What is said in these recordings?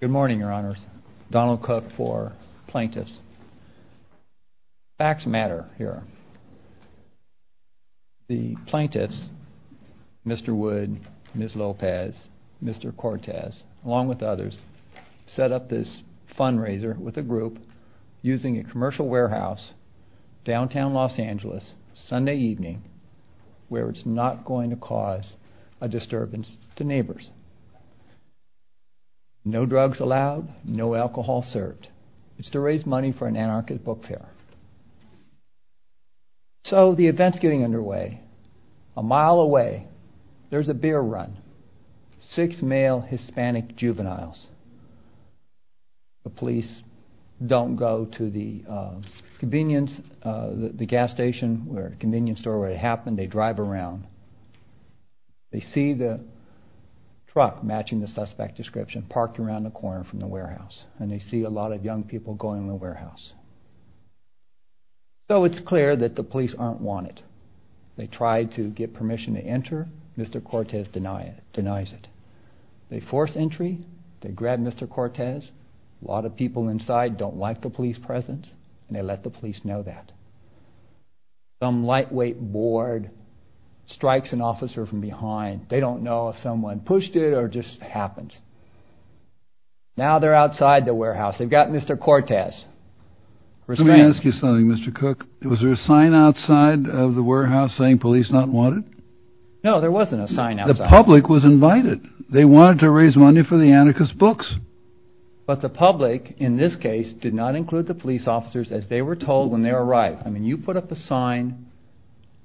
Good morning, Your Honors. Donald Cook for Plaintiffs. Facts matter here. The plaintiffs, Mr. Wood, Ms. Lopez, Mr. Cortez, along with others, set up this fundraiser with a group using a commercial warehouse, downtown Los Angeles, Sunday evening, where it's not going to cause a disturbance to neighbors. No drugs allowed, no alcohol served. It's to raise money for an anarchist book fair. So, the event's getting underway. A mile away, there's a beer run. Six male Hispanic juveniles. The police don't go to the convenience, the gas station or convenience store where it happened. They drive around. They see the truck matching the suspect description parked around the corner from the warehouse, and they see a lot of young people going in the warehouse. So, it's clear that the police aren't wanted. They try to get permission to enter. Mr. Cortez denies it. They force entry. They grab Mr. Cortez. A lot of people inside don't like the police presence, and they let the police know that. Some lightweight board strikes an officer from behind. They don't know if someone pushed it or it just happened. Now, they're outside the warehouse. They've got Mr. Cortez restrained. Let me ask you something, Mr. Cook. Was there a sign outside of the warehouse saying police not wanted? No, there wasn't a sign outside. The public was invited. They wanted to raise money for the anarchist books. But the public, in this case, did not when they arrived. I mean, you put up a sign.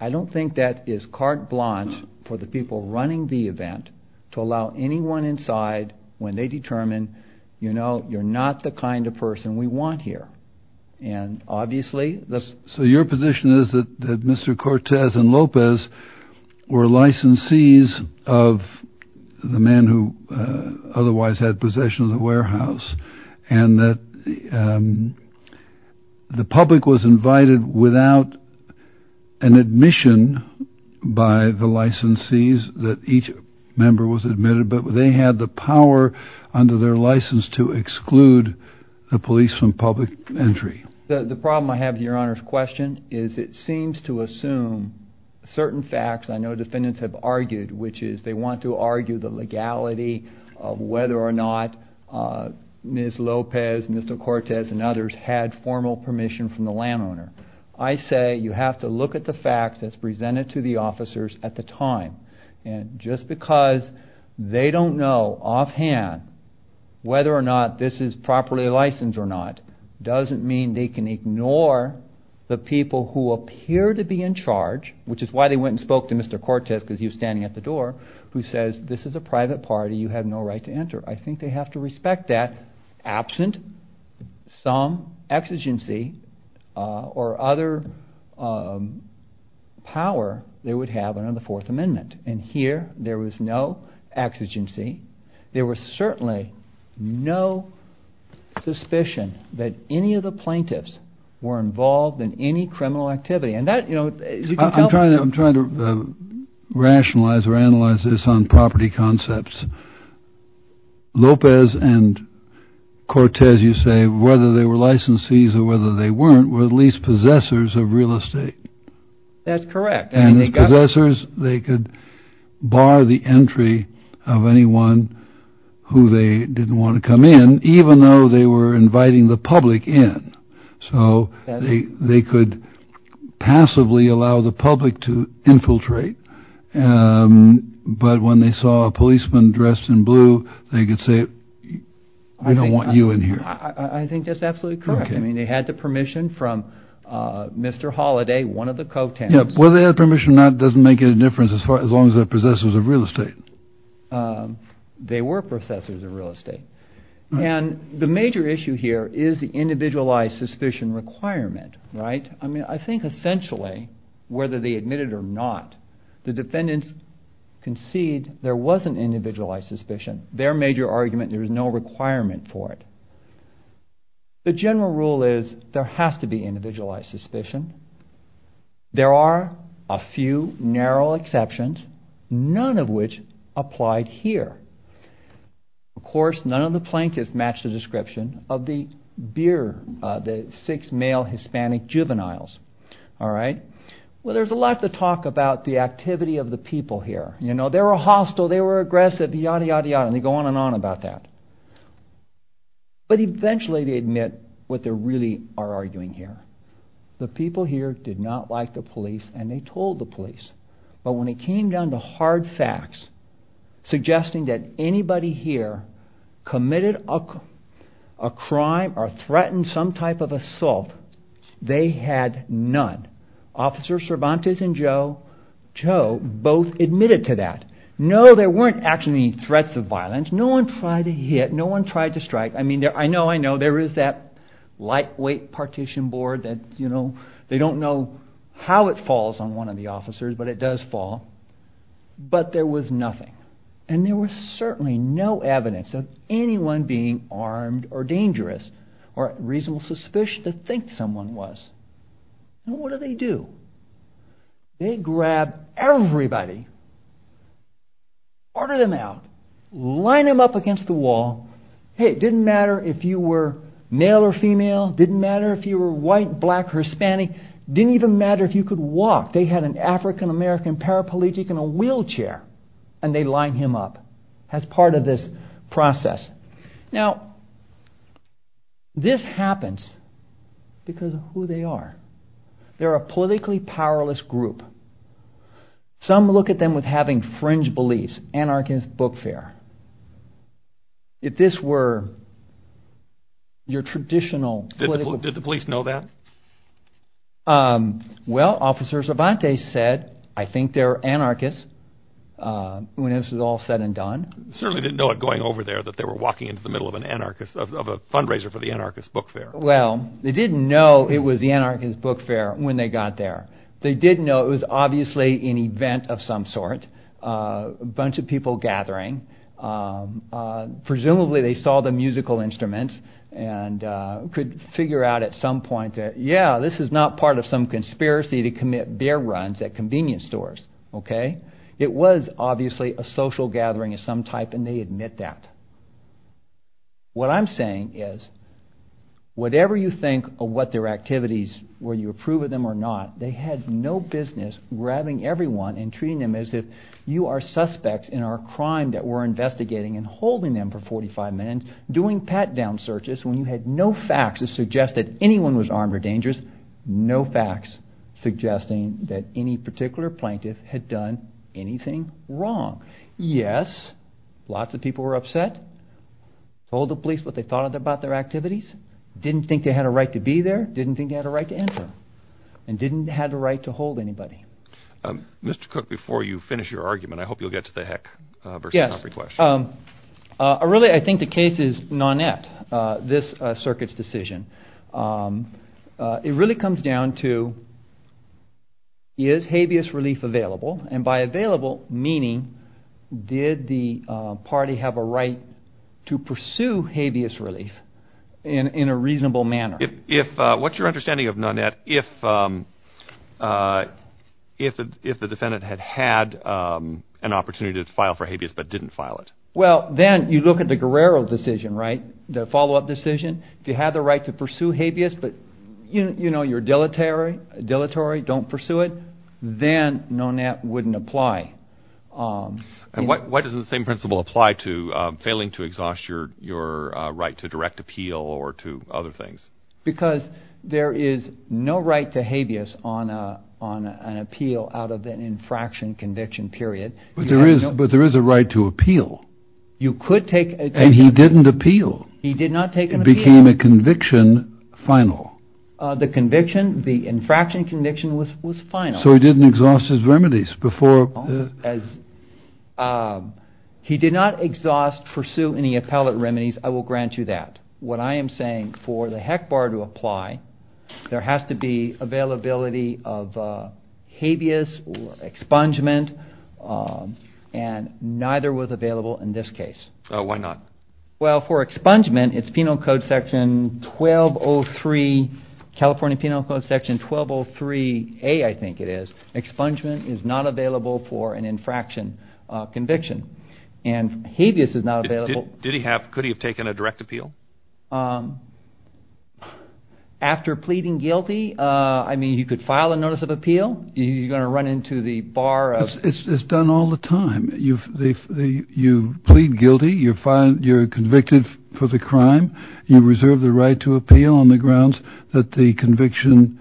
I don't think that is carte blanche for the people running the event to allow anyone inside when they determine, you know, you're not the kind of person we want here. And obviously, the... So, your position is that Mr. Cortez and Lopez were licensees of the man who otherwise had possession of the warehouse, and that the public was invited without an admission by the licensees that each member was admitted, but they had the power under their license to exclude the police from public entry. The problem I have with your Honor's question is it seems to assume certain facts I know defendants have argued, which is they want to argue the legality of whether or not Ms. Cortez and others had formal permission from the landowner. I say you have to look at the facts that's presented to the officers at the time. And just because they don't know offhand whether or not this is properly licensed or not doesn't mean they can ignore the people who appear to be in charge, which is why they went and spoke to Mr. Cortez, because he was standing at the door, who says this is a private party, you have no right to enter. I think they have to respect that absent some exigency or other power they would have under the Fourth Amendment. And here, there was no exigency. There was certainly no suspicion that any of the plaintiffs were involved in any criminal activity. And that, you know, you can tell I'm trying to rationalize or analyze this on property concepts. Lopez and Cortez, you say, whether they were licensees or whether they weren't, were at least possessors of real estate. That's correct. And as possessors, they could bar the entry of anyone who they didn't want to come in, even though they were inviting the public in. So they could passively allow the public to infiltrate. But when they saw a policeman dressed in blue, they could say, I don't want you in here. I think that's absolutely correct. I mean, they had the permission from Mr. Holliday, one of the co-tenants. Whether they had permission or not doesn't make any difference as far as long as they're possessors of real estate. They were possessors of real estate. And the major issue here is the individualized suspicion requirement. Right? I mean, I think essentially, whether they admitted or not, the defendants concede there was an individualized suspicion. Their major argument, there was no requirement for it. The general rule is there has to be individualized suspicion. There are a few narrow exceptions, none of which applied here. Of course, none of the plaintiffs matched the description of the six male Hispanic juveniles. All right? Well, there's a lot to talk about the activity of the people here. You know, they were hostile, they were aggressive, yada, yada, yada, and they go on and on about that. But eventually they admit what they really are arguing here. The people here did not like the police and they told the police. But when it came down to hard facts, suggesting that anybody here committed a crime or threatened some type of assault, they had none. Officers Cervantes and Joe both admitted to that. No, there weren't actually any threats of violence. No one tried to hit, no one tried to strike. I mean, I know, I know, there is that lightweight partition board that, you know, they don't know how it falls on one of the officers, but it does fall. But there was nothing. And there was certainly no evidence of anyone being armed or dangerous or reasonable suspicion to think someone was. And what do they do? They grab everybody, order them out, line them up against the wall. Hey, it didn't matter if you were male or female, didn't matter if you were white, black, Hispanic, didn't even matter if you could walk. They had an African-American paraplegic in a wheelchair and they line him up as part of this process. Now, this happens because of who they are. They're a politically powerless group. Some look at them with having fringe beliefs, anarchist, book fair. If this were your traditional... Did the police know that? Well, Officer Cervantes said, I think they're anarchists, when this is all said and done. Certainly didn't know it going over there that they were walking into the middle of an anarchist, of a fundraiser for the anarchist book fair. Well, they didn't know it was the anarchist book fair when they got there. They did know it was obviously an event of some sort, a bunch of people gathering. Presumably, they saw the musical instruments and could figure out at some point that, yeah, this is not part of some conspiracy to commit bear runs at convenience stores, okay? It was obviously a social gathering of some type and they admit that. What I'm saying is, whatever you think of what their activities, whether you approve of them or not, they had no business grabbing everyone and treating them as if you are suspects in our crime that we're investigating and holding them for 45 minutes, doing pat-down searches when you had no facts to suggest that anyone was armed or dangerous, no facts suggesting that any particular plaintiff had done anything wrong. Yes, lots of people were upset, told the police what they thought about their activities, didn't think they had a right to be there, didn't think they had a right to enter, and didn't have the right to hold anybody. Mr. Cook, before you finish your argument, I hope you'll get to the heck versus every question. Yes. Really, I think the case is nonet, this circuit's decision. It really comes down to, is habeas relief available? And by available, meaning, did the party have a right to pursue habeas relief in a reasonable manner? What's your understanding of nonet if the defendant had had an opportunity to file for habeas but didn't file it? Well, then you look at the Guerrero decision, right? The follow-up decision. If you had the right to pursue habeas, but you know, you're dilatory, don't pursue it, then nonet wouldn't apply. And why doesn't the same principle apply to failing to exhaust your right to direct appeal or to other things? Because there is no right to habeas on an appeal out of an infraction conviction period. But there is a right to appeal. You could take... And he didn't appeal. He did not take an appeal. It became a conviction final. The conviction, the infraction conviction was final. So he didn't exhaust his remedies before... He did not exhaust, pursue any appellate remedies. I will grant you that. What I am saying, for the HEC bar to apply, there has to be availability of habeas or expungement, and neither was available in this case. Why not? Well, for expungement, it's Penal Code Section 1203, California Penal Code Section 1203A, I think it is. Expungement is not available for an infraction conviction. And habeas is not available. Could he have taken a direct appeal? After pleading guilty, I mean, you could file a notice of appeal. You're going to run into the bar of... It's done all the time. You plead guilty. You're convicted for the crime. You reserve the right to appeal on the grounds that the conviction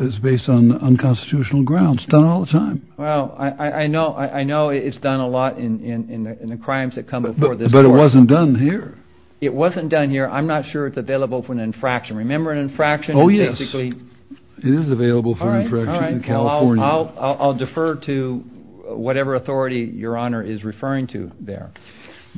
is based on unconstitutional grounds. It's done all the time. Well, I know it's done a lot in the crimes that come before this court. But it wasn't done here. It wasn't done here. I'm not sure it's available for an infraction. Remember an infraction is basically... Oh, yes. It is available for an infraction in California. I'll defer to whatever authority Your Honor is referring to there.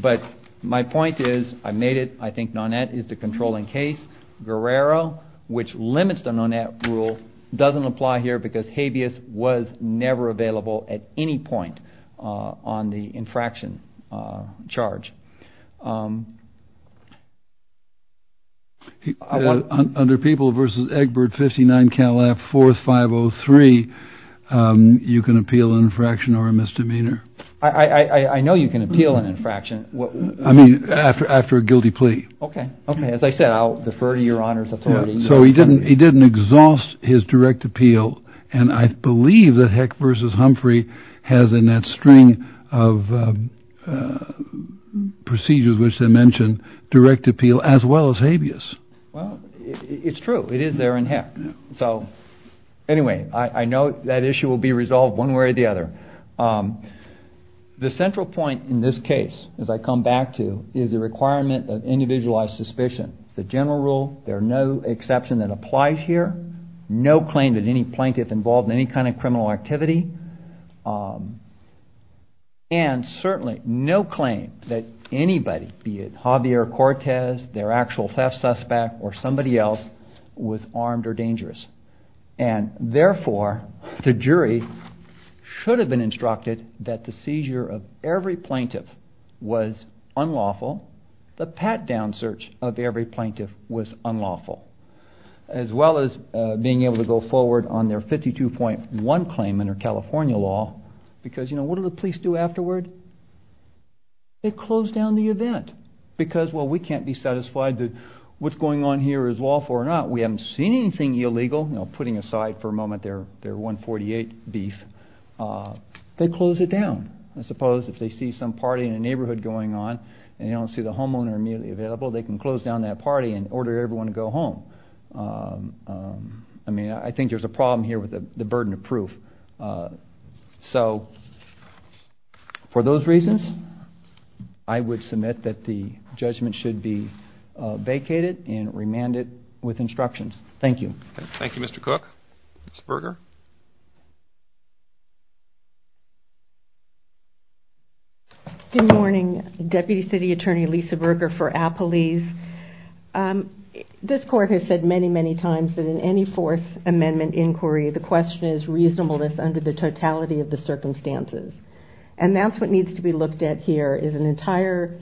But my point is, I made it. I think Nonet is the controlling case. Guerrero, which limits the Nonet rule, doesn't apply here because habeas was never available at any point on the infraction charge. Under People v. Egbert, 59 Calaf, 4th 503, you can appeal an infraction or a misdemeanor. I know you can appeal an infraction. I mean, after a guilty plea. Okay. Okay. As I said, I'll defer to Your Honor's authority. So he didn't exhaust his direct appeal. And I believe that Heck v. Humphrey has in that string of procedures, which they mentioned, direct appeal as well as habeas. Well, it's true. It is there in Heck. So anyway, I know that issue will be resolved one way or the other. The central point in this case, as I come back to, is the requirement of individualized suspicion. It's a general rule. There are no exceptions that apply here. No claim that any plaintiff involved in any kind of criminal activity. And certainly no claim that anybody, be it Javier Cortez, their actual theft suspect, or somebody else, was armed or dangerous. And therefore, the jury should have been instructed that the seizure of every plaintiff was unlawful. The pat-down search of every plaintiff was unlawful. As well as being able to go forward on their 52.1 claim under California law. Because, you know, what do the police do afterward? They close down the event. Because, well, we can't be satisfied that what's going on here is lawful or not. We haven't seen anything illegal. You know, putting aside for a moment their 148 beef, they close it down. I suppose if they see some party in a neighborhood going on, and they don't see the homeowner immediately available, they can close down that party and order everyone to go home. I mean, I think there's a problem here with the burden of proof. So, for those reasons, I would submit that the judgment should be vacated and remanded with instructions. Thank you. Thank you, Mr. Cook. Ms. Berger? Good morning. Deputy City Attorney Lisa Berger for Appalese. This court has said many, many times that in any Fourth Amendment inquiry, the question is reasonableness under the totality of the circumstances. And that's what needs to be looked at here, is an entire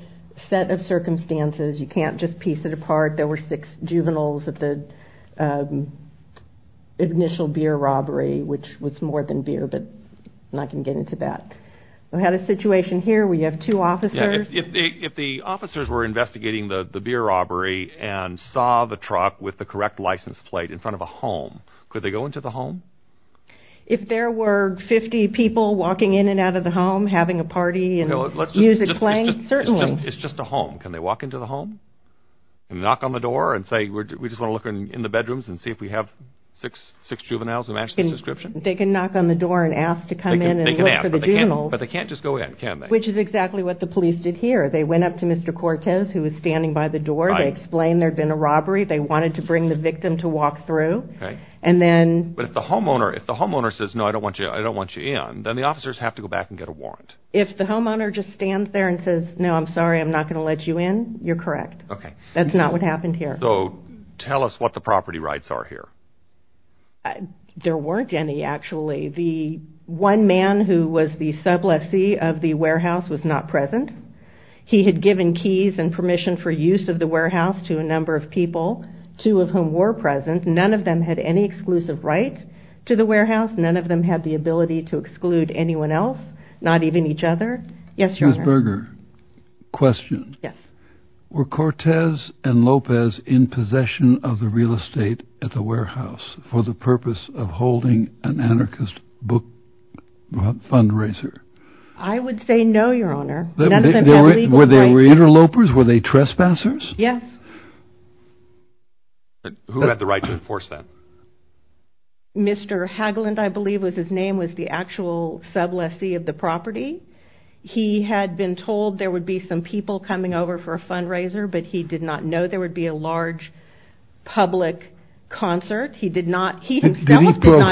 set of circumstances. You can't just piece it apart. There were six juveniles at the initial beer robbery, which was more than beer, but I'm not going to get into that. We had a situation here where you have two officers. If the officers were investigating the beer robbery and saw the truck with the correct license plate in front of a home, could they go into the home? If there were 50 people walking in and out of the home, having a party, and use a plane, certainly. It's just a home. Can they walk into the home and knock on the door and say, we just want to look in the bedrooms and see if we have six juveniles who match this description? They can knock on the door and ask to come in and look for the juveniles. But they can't just go in, can they? Which is exactly what the police did here. They went up to Mr. Cortez, who was standing by the door. They explained there had been a robbery. They wanted to bring the victim to walk through. But if the homeowner says, no, I don't want you in, then the officers have to go back and get a warrant. If the homeowner just stands there and says, no, I'm sorry, I'm not going to let you in, you're correct. That's not what happened here. So tell us what the property rights are here. There weren't any, actually. The one man who was the sub lessee of the warehouse was not present. He had given keys and permission for use of the warehouse to a number of people, two of whom were present. None of them had any exclusive right to the warehouse. None of them had the ability to exclude anyone else, not even each other. Yes, Your Honor. Ms. Berger, question. Yes. Were Cortez and Lopez in possession of the real estate at the warehouse for the purpose of holding an anarchist book fundraiser? I would say no, Your Honor. None of them had legal rights. Were they interlopers? Were they trespassers? Yes. Who had the right to enforce that? Mr. Haglund, I believe was his name, was the actual sub lessee of the property. He had been told there would be some people coming over for a fundraiser, but he did not know there would be a large public concert. He himself did not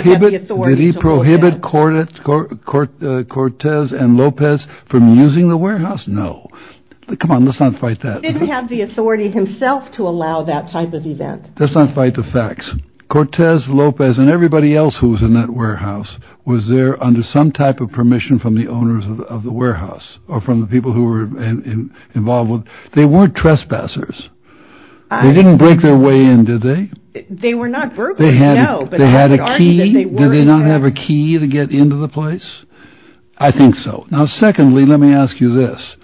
have the authority to hold that. Did he prohibit Cortez and Lopez from using the warehouse? No. Come on, let's not fight that. Let's not fight the facts. Cortez, Lopez, and everybody else who was in that warehouse was there under some type of permission from the owners of the warehouse or from the people who were involved. They weren't trespassers. They didn't break their way in, did they? They were not burglars, no. They had a key. Did they not have a key to get into the place? I think so. Now, secondly, let me ask you this.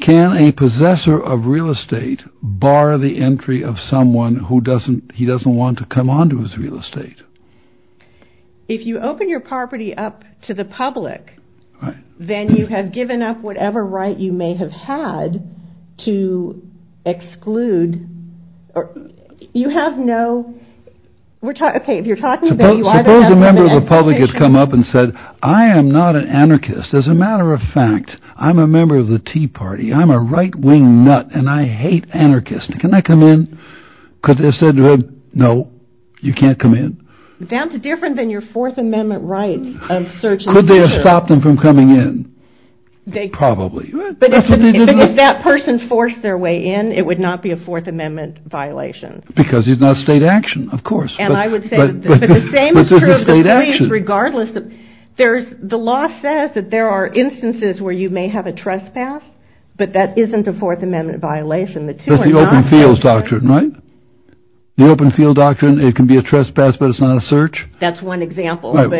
Can a possessor of real estate bar the entry of someone who doesn't he doesn't want to come on to his real estate? If you open your property up to the public, then you have given up whatever right you may have had to exclude. You have no. We're talking. If you're talking about a member of the public has come up and said, I am not an anarchist. As a matter of fact, I'm a member of the Tea Party. I'm a right wing nut and I hate anarchists. Can I come in? Could they have said, no, you can't come in. That's different than your Fourth Amendment rights of search. Could they have stopped them from coming in? Probably. But if that person forced their way in, it would not be a Fourth Amendment violation. Because it's not state action. Of course. And I would say the same is true regardless. There's the law says that there are instances where you may have a trespass, but that isn't a Fourth Amendment violation. That's the open fields doctrine, right? The open field doctrine. It can be a trespass, but it's not a search. That's one example. But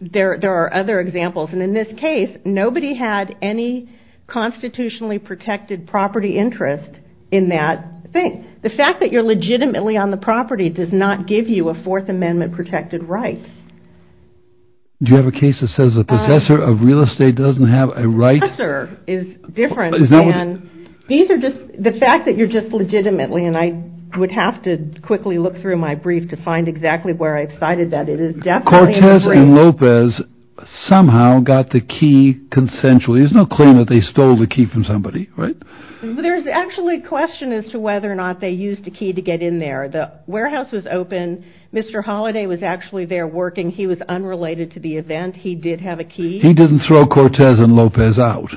there are other examples. And in this case, nobody had any constitutionally protected property interest in that thing. The fact that you're legitimately on the property does not give you a Fourth Amendment protected right. Do you have a case that says a possessor of real estate doesn't have a right? Possessor is different. These are just the fact that you're just legitimately. And I would have to quickly look through my brief to find exactly where I've cited that. Cortez and Lopez somehow got the key consensually. There's no claim that they stole the key from somebody, right? There's actually a question as to whether or not they used a key to get in there. The warehouse was open. Mr. Holiday was actually there working. He was unrelated to the event. He did have a key. He didn't throw Cortez and Lopez out.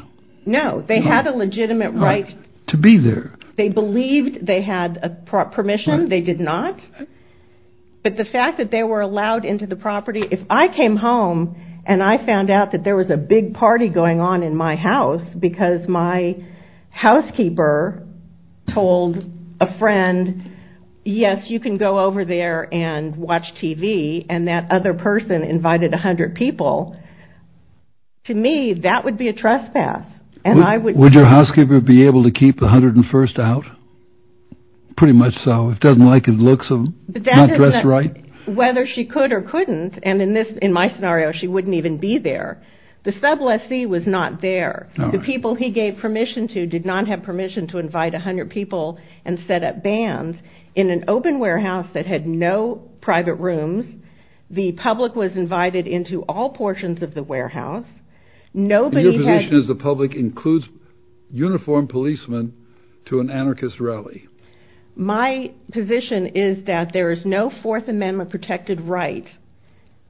No, they had a legitimate right. To be there. They believed they had permission. They did not. But the fact that they were allowed into the property. If I came home and I found out that there was a big party going on in my house because my housekeeper told a friend, yes, you can go over there and watch TV. And that other person invited 100 people. To me, that would be a trespass. Would your housekeeper be able to keep the 101st out? Pretty much so. Doesn't like the looks of them? Not dressed right? Whether she could or couldn't. And in my scenario, she wouldn't even be there. The sub lessee was not there. The people he gave permission to did not have permission to invite 100 people and set up bands in an open warehouse that had no private rooms. The public was invited into all portions of the warehouse. Your position is the public includes uniformed policemen to an anarchist rally. My position is that there is no Fourth Amendment protected right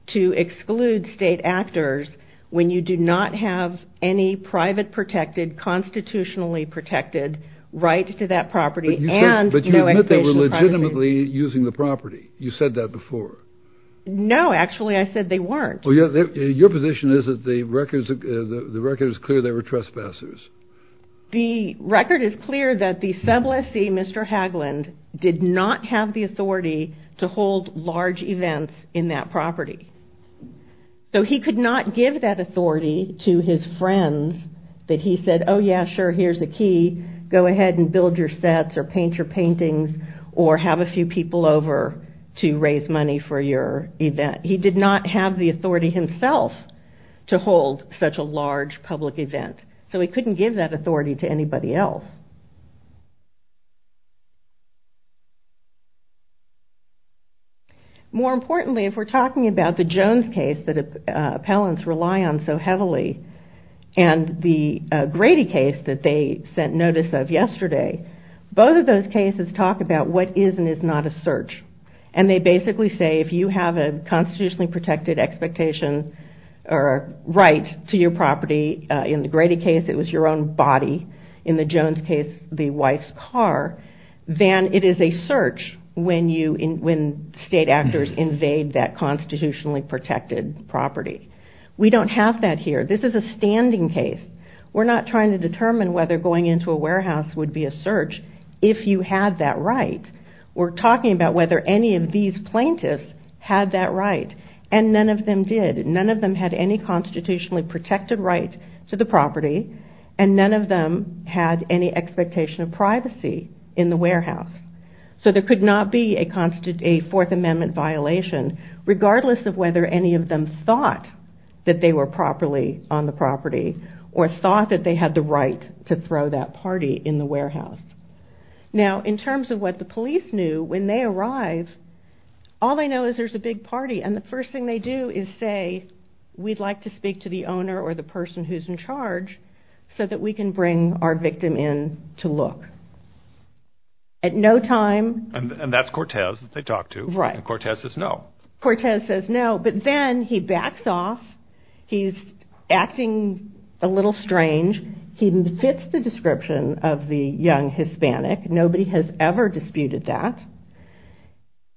to exclude state actors when you do not have any private protected, constitutionally protected right to that property. But you admit they were legitimately using the property. You said that before. No, actually, I said they weren't. Your position is that the record is clear they were trespassers. The record is clear that the sub lessee, Mr. Haglund, did not have the authority to hold large events in that property. So he could not give that authority to his friends that he said, oh, yeah, sure, here's the key. Go ahead and build your sets or paint your paintings or have a few people over to raise money for your event. He did not have the authority himself to hold such a large public event. So he couldn't give that authority to anybody else. More importantly, if we're talking about the Jones case that appellants rely on so heavily and the Grady case that they sent notice of yesterday, both of those cases talk about what is and is not a search. And they basically say if you have a constitutionally protected expectation or right to your property, in the Grady case it was your own body, in the Jones case the wife's car, then it is a search when state actors invade that constitutionally protected property. We don't have that here. This is a standing case. We're not trying to determine whether going into a warehouse would be a search if you had that right. We're talking about whether any of these plaintiffs had that right and none of them did. None of them had any constitutionally protected right to the property and none of them had any expectation of privacy in the warehouse. So there could not be a Fourth Amendment violation regardless of whether any of them thought that they were properly on the property or thought that they had the right to throw that party in the warehouse. Now in terms of what the police knew when they arrive, all they know is there's a big party and the first thing they do is say we'd like to speak to the owner or the person who's in charge so that we can bring our victim in to look. At no time... And that's Cortez that they talk to. Right. And Cortez says no. Cortez says no, but then he backs off. He's acting a little strange. He fits the description of the young Hispanic. Nobody has ever disputed that.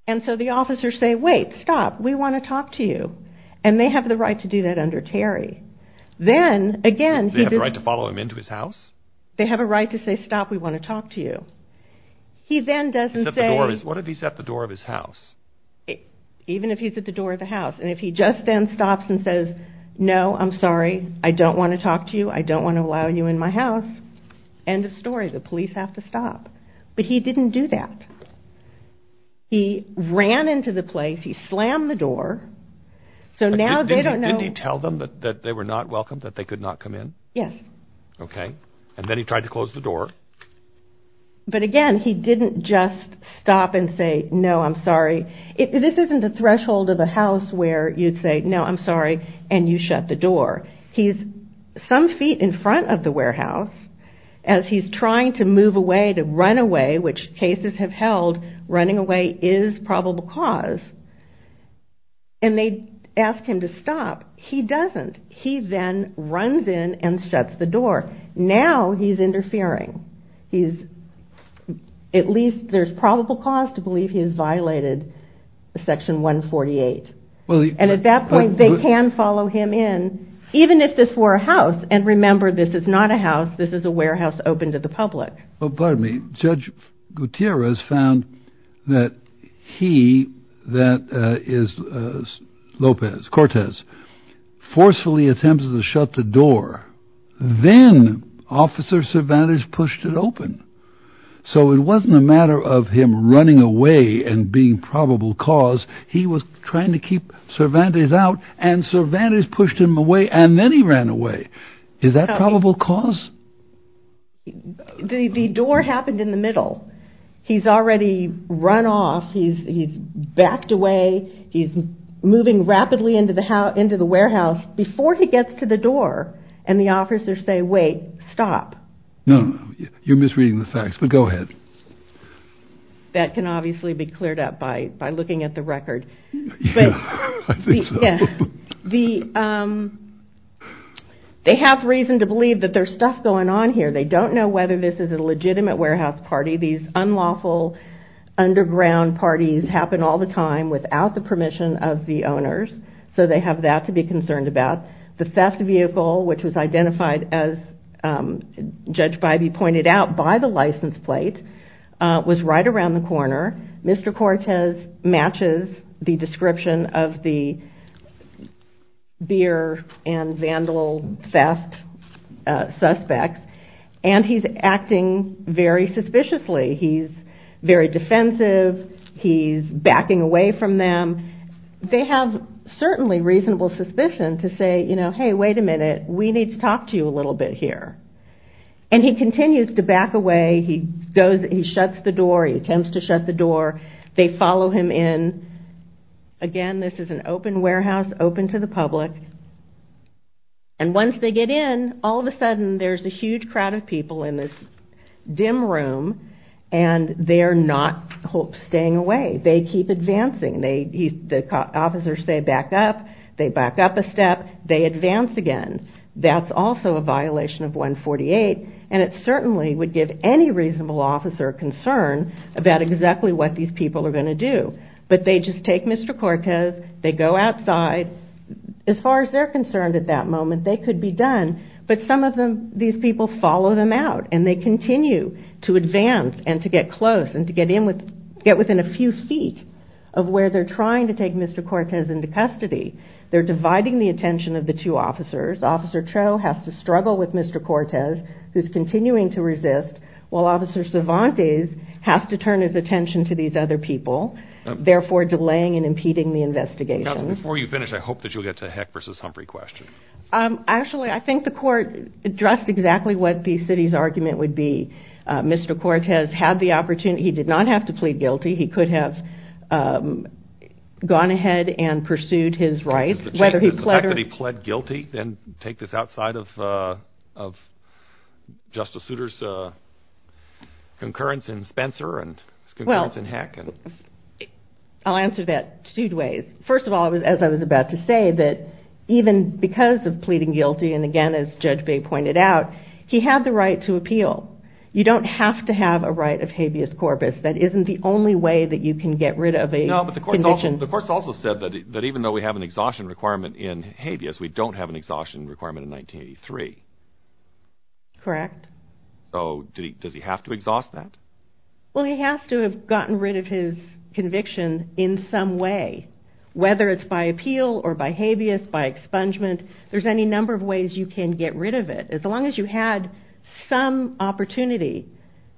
And so the officers say wait, stop, we want to talk to you. And they have the right to do that under Terry. Then again... They have the right to follow him into his house? They have a right to say stop, we want to talk to you. He then doesn't say... What if he's at the door of his house? Even if he's at the door of the house and if he just then stops and says no, I'm sorry, I don't want to talk to you, I don't want to allow you in my house, end of story. The police have to stop. But he didn't do that. He ran into the place, he slammed the door. So now they don't know... Didn't he tell them that they were not welcome, that they could not come in? Yes. Okay. And then he tried to close the door. But again, he didn't just stop and say no, I'm sorry. This isn't the threshold of a house where you'd say no, I'm sorry, and you shut the door. He's some feet in front of the warehouse as he's trying to move away, to run away, which cases have held, running away is probable cause. And they ask him to stop. He doesn't. He then runs in and shuts the door. Now he's interfering. He's... At least there's probable cause to believe he's violated Section 148. And at that point, they can follow him in, even if this were a house. And remember, this is not a house. This is a warehouse open to the public. Well, pardon me. Judge Gutierrez found that he, that is Lopez, Cortez, forcefully attempted to shut the door. Then Officer Cervantes pushed it open. So it wasn't a matter of him running away and being probable cause. He was trying to keep Cervantes out, and Cervantes pushed him away, and then he ran away. Is that probable cause? The door happened in the middle. He's already run off. He's backed away. He's moving rapidly into the warehouse before he gets to the door, and the officers say, wait, stop. No, no, no. You're misreading the facts, but go ahead. That can obviously be cleared up by looking at the record. I think so. They have reason to believe that there's stuff going on here. They don't know whether this is a legitimate warehouse party. These unlawful underground parties happen all the time without the permission of the owners, so they have that to be concerned about. The theft vehicle, which was identified, as Judge Bybee pointed out, by the license plate, was right around the corner. Mr. Cortez matches the description of the beer and vandal theft suspects, and he's acting very suspiciously. He's very defensive. He's backing away from them. They have certainly reasonable suspicion to say, hey, wait a minute, we need to talk to you a little bit here, and he continues to back away. He shuts the door. He attempts to shut the door. They follow him in. Again, this is an open warehouse open to the public, and once they get in, all of a sudden, there's a huge crowd of people in this dim room, and they're not staying away. They keep advancing. The officers say back up. They back up a step. They advance again. That's also a violation of 148, and it certainly would give any reasonable officer concern about exactly what these people are going to do, but they just take Mr. Cortez. They go outside. As far as they're concerned at that moment, they could be done, but some of these people follow them out, and they continue to advance and to get close and to get within a few feet of where they're trying to take Mr. Cortez into custody. They're dividing the attention of the two officers. Officer Cho has to struggle with Mr. Cortez, who's continuing to resist, while Officer Cervantes has to turn his attention to these other people, therefore delaying and impeding the investigation. Counsel, before you finish, I hope that you'll get to Heck versus Humphrey question. Actually, I think the court addressed exactly what the city's argument would be. Mr. Cortez had the opportunity. He did not have to plead guilty. He could have gone ahead and pursued his rights, whether he pleaded. Does the fact that he pled guilty then take this outside of Justice Souter's concurrence in Spencer and his concurrence in Heck? Well, I'll answer that two ways. First of all, as I was about to say, that even because of pleading guilty, and again, as Judge Bay pointed out, he had the right to appeal. You don't have to have a right of habeas corpus. That isn't the only way that you can get rid of a conviction. No, but the court also said that even though we have an exhaustion requirement in habeas, we don't have an exhaustion requirement in 1983. Correct. So does he have to exhaust that? Well, he has to have gotten rid of his conviction in some way, whether it's by appeal or by habeas, by expungement. There's any number of ways you can get rid of it. As long as you had some opportunity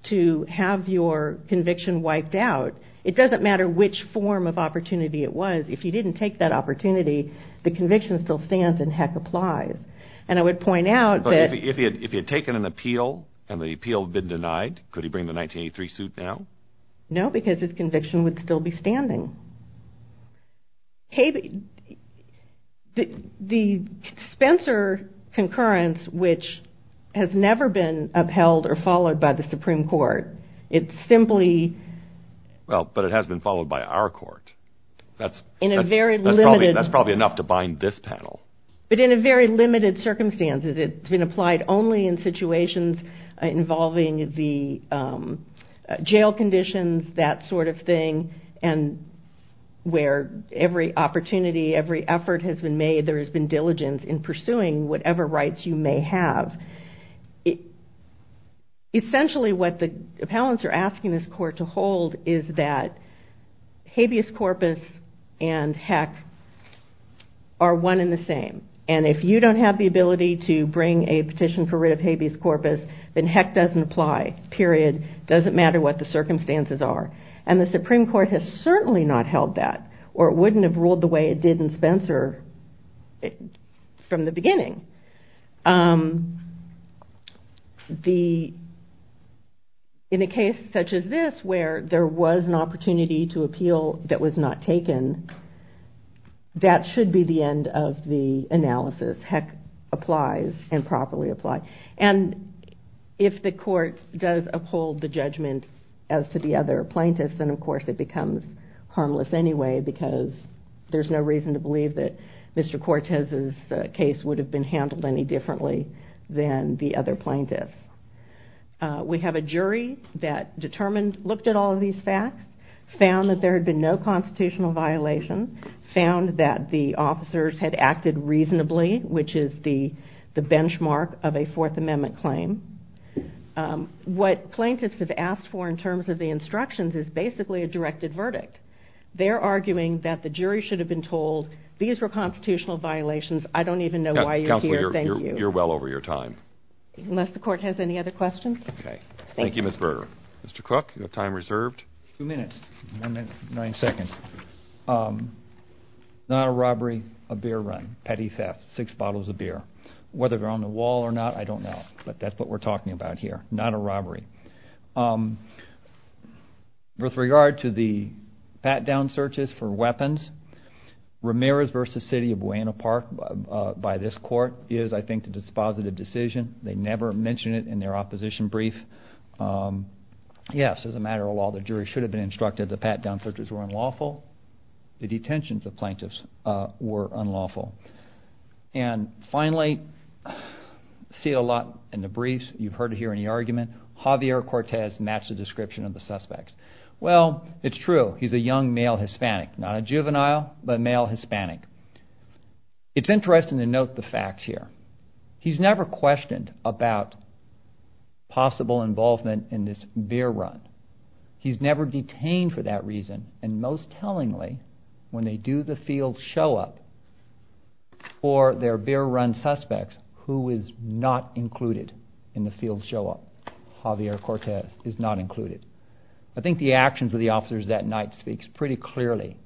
to have your conviction wiped out, it doesn't matter which form of opportunity it was. If you didn't take that opportunity, the conviction still stands in Heck Applies. But if he had taken an appeal and the appeal had been denied, could he bring the 1983 suit now? No, because his conviction would still be standing. The Spencer concurrence, which has never been upheld or followed by the Supreme Court, it's simply... Well, but it has been followed by our court. That's probably enough to bind this panel. But in a very limited circumstances, it's been applied only in situations involving the jail conditions, that sort of thing, and where every opportunity, every effort has been made, there has been diligence in pursuing whatever rights you may have. Essentially what the appellants are asking this court to hold is that habeas corpus and Heck are one and the same. And if you don't have the ability to bring a petition for rid of habeas corpus, then Heck doesn't apply, period. It doesn't matter what the circumstances are. And the Supreme Court has certainly not held that, or it wouldn't have ruled the way it did in Spencer from the beginning. In a case such as this, where there was an opportunity to appeal that was not taken, that should be the end of the analysis. Heck applies and properly applies. And if the court does uphold the judgment as to the other plaintiffs, then of course it becomes harmless anyway, because there's no reason to believe that Mr. Cortez's case would have been handled any differently than the other plaintiffs. We have a jury that determined, looked at all of these facts, found that there had been no constitutional violation, found that the officers had acted reasonably, which is the benchmark of a Fourth Amendment claim. What plaintiffs have asked for in terms of the instructions is basically a directed verdict. They're arguing that the jury should have been told, these were constitutional violations, I don't even know why you're here, thank you. Counselor, you're well over your time. Unless the court has any other questions? Okay. Thank you, Ms. Berger. Mr. Crook, you have time reserved. Two minutes, one minute, nine seconds. Not a robbery, a beer run, petty theft, six bottles of beer. Whether they're on the wall or not, I don't know, but that's what we're talking about here. Not a robbery. With regard to the pat-down searches for weapons, Ramirez v. City of Buena Park by this court is, I think, a dispositive decision. They never mention it in their opposition brief. Yes, as a matter of law, the jury should have been instructed the pat-down searches were unlawful. The detentions of plaintiffs were unlawful. And finally, I see it a lot in the briefs. You've heard or hear any argument, Javier Cortez matched the description of the suspects. Well, it's true, he's a young male Hispanic. Not a juvenile, but a male Hispanic. It's interesting to note the facts here. He's never questioned about possible involvement in this beer run. He's never detained for that reason. And most tellingly, when they do the field show-up for their beer run suspects, who is not included in the field show-up? Javier Cortez is not included. I think the actions of the officers that night speaks pretty clearly.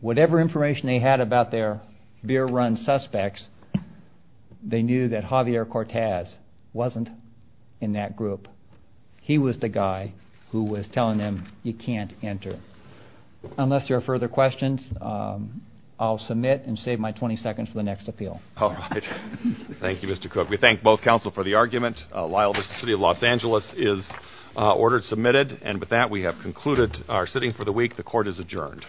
Whatever information they had about their beer run suspects, they knew that Javier Cortez wasn't in that group. He was the guy who was telling them, you can't enter. Unless there are further questions, I'll submit and save my 20 seconds for the next appeal. All right. Thank you, Mr. Cook. We thank both counsel for the argument. Lyle v. City of Los Angeles is ordered submitted. And with that, we have concluded our sitting for the week. The court is adjourned.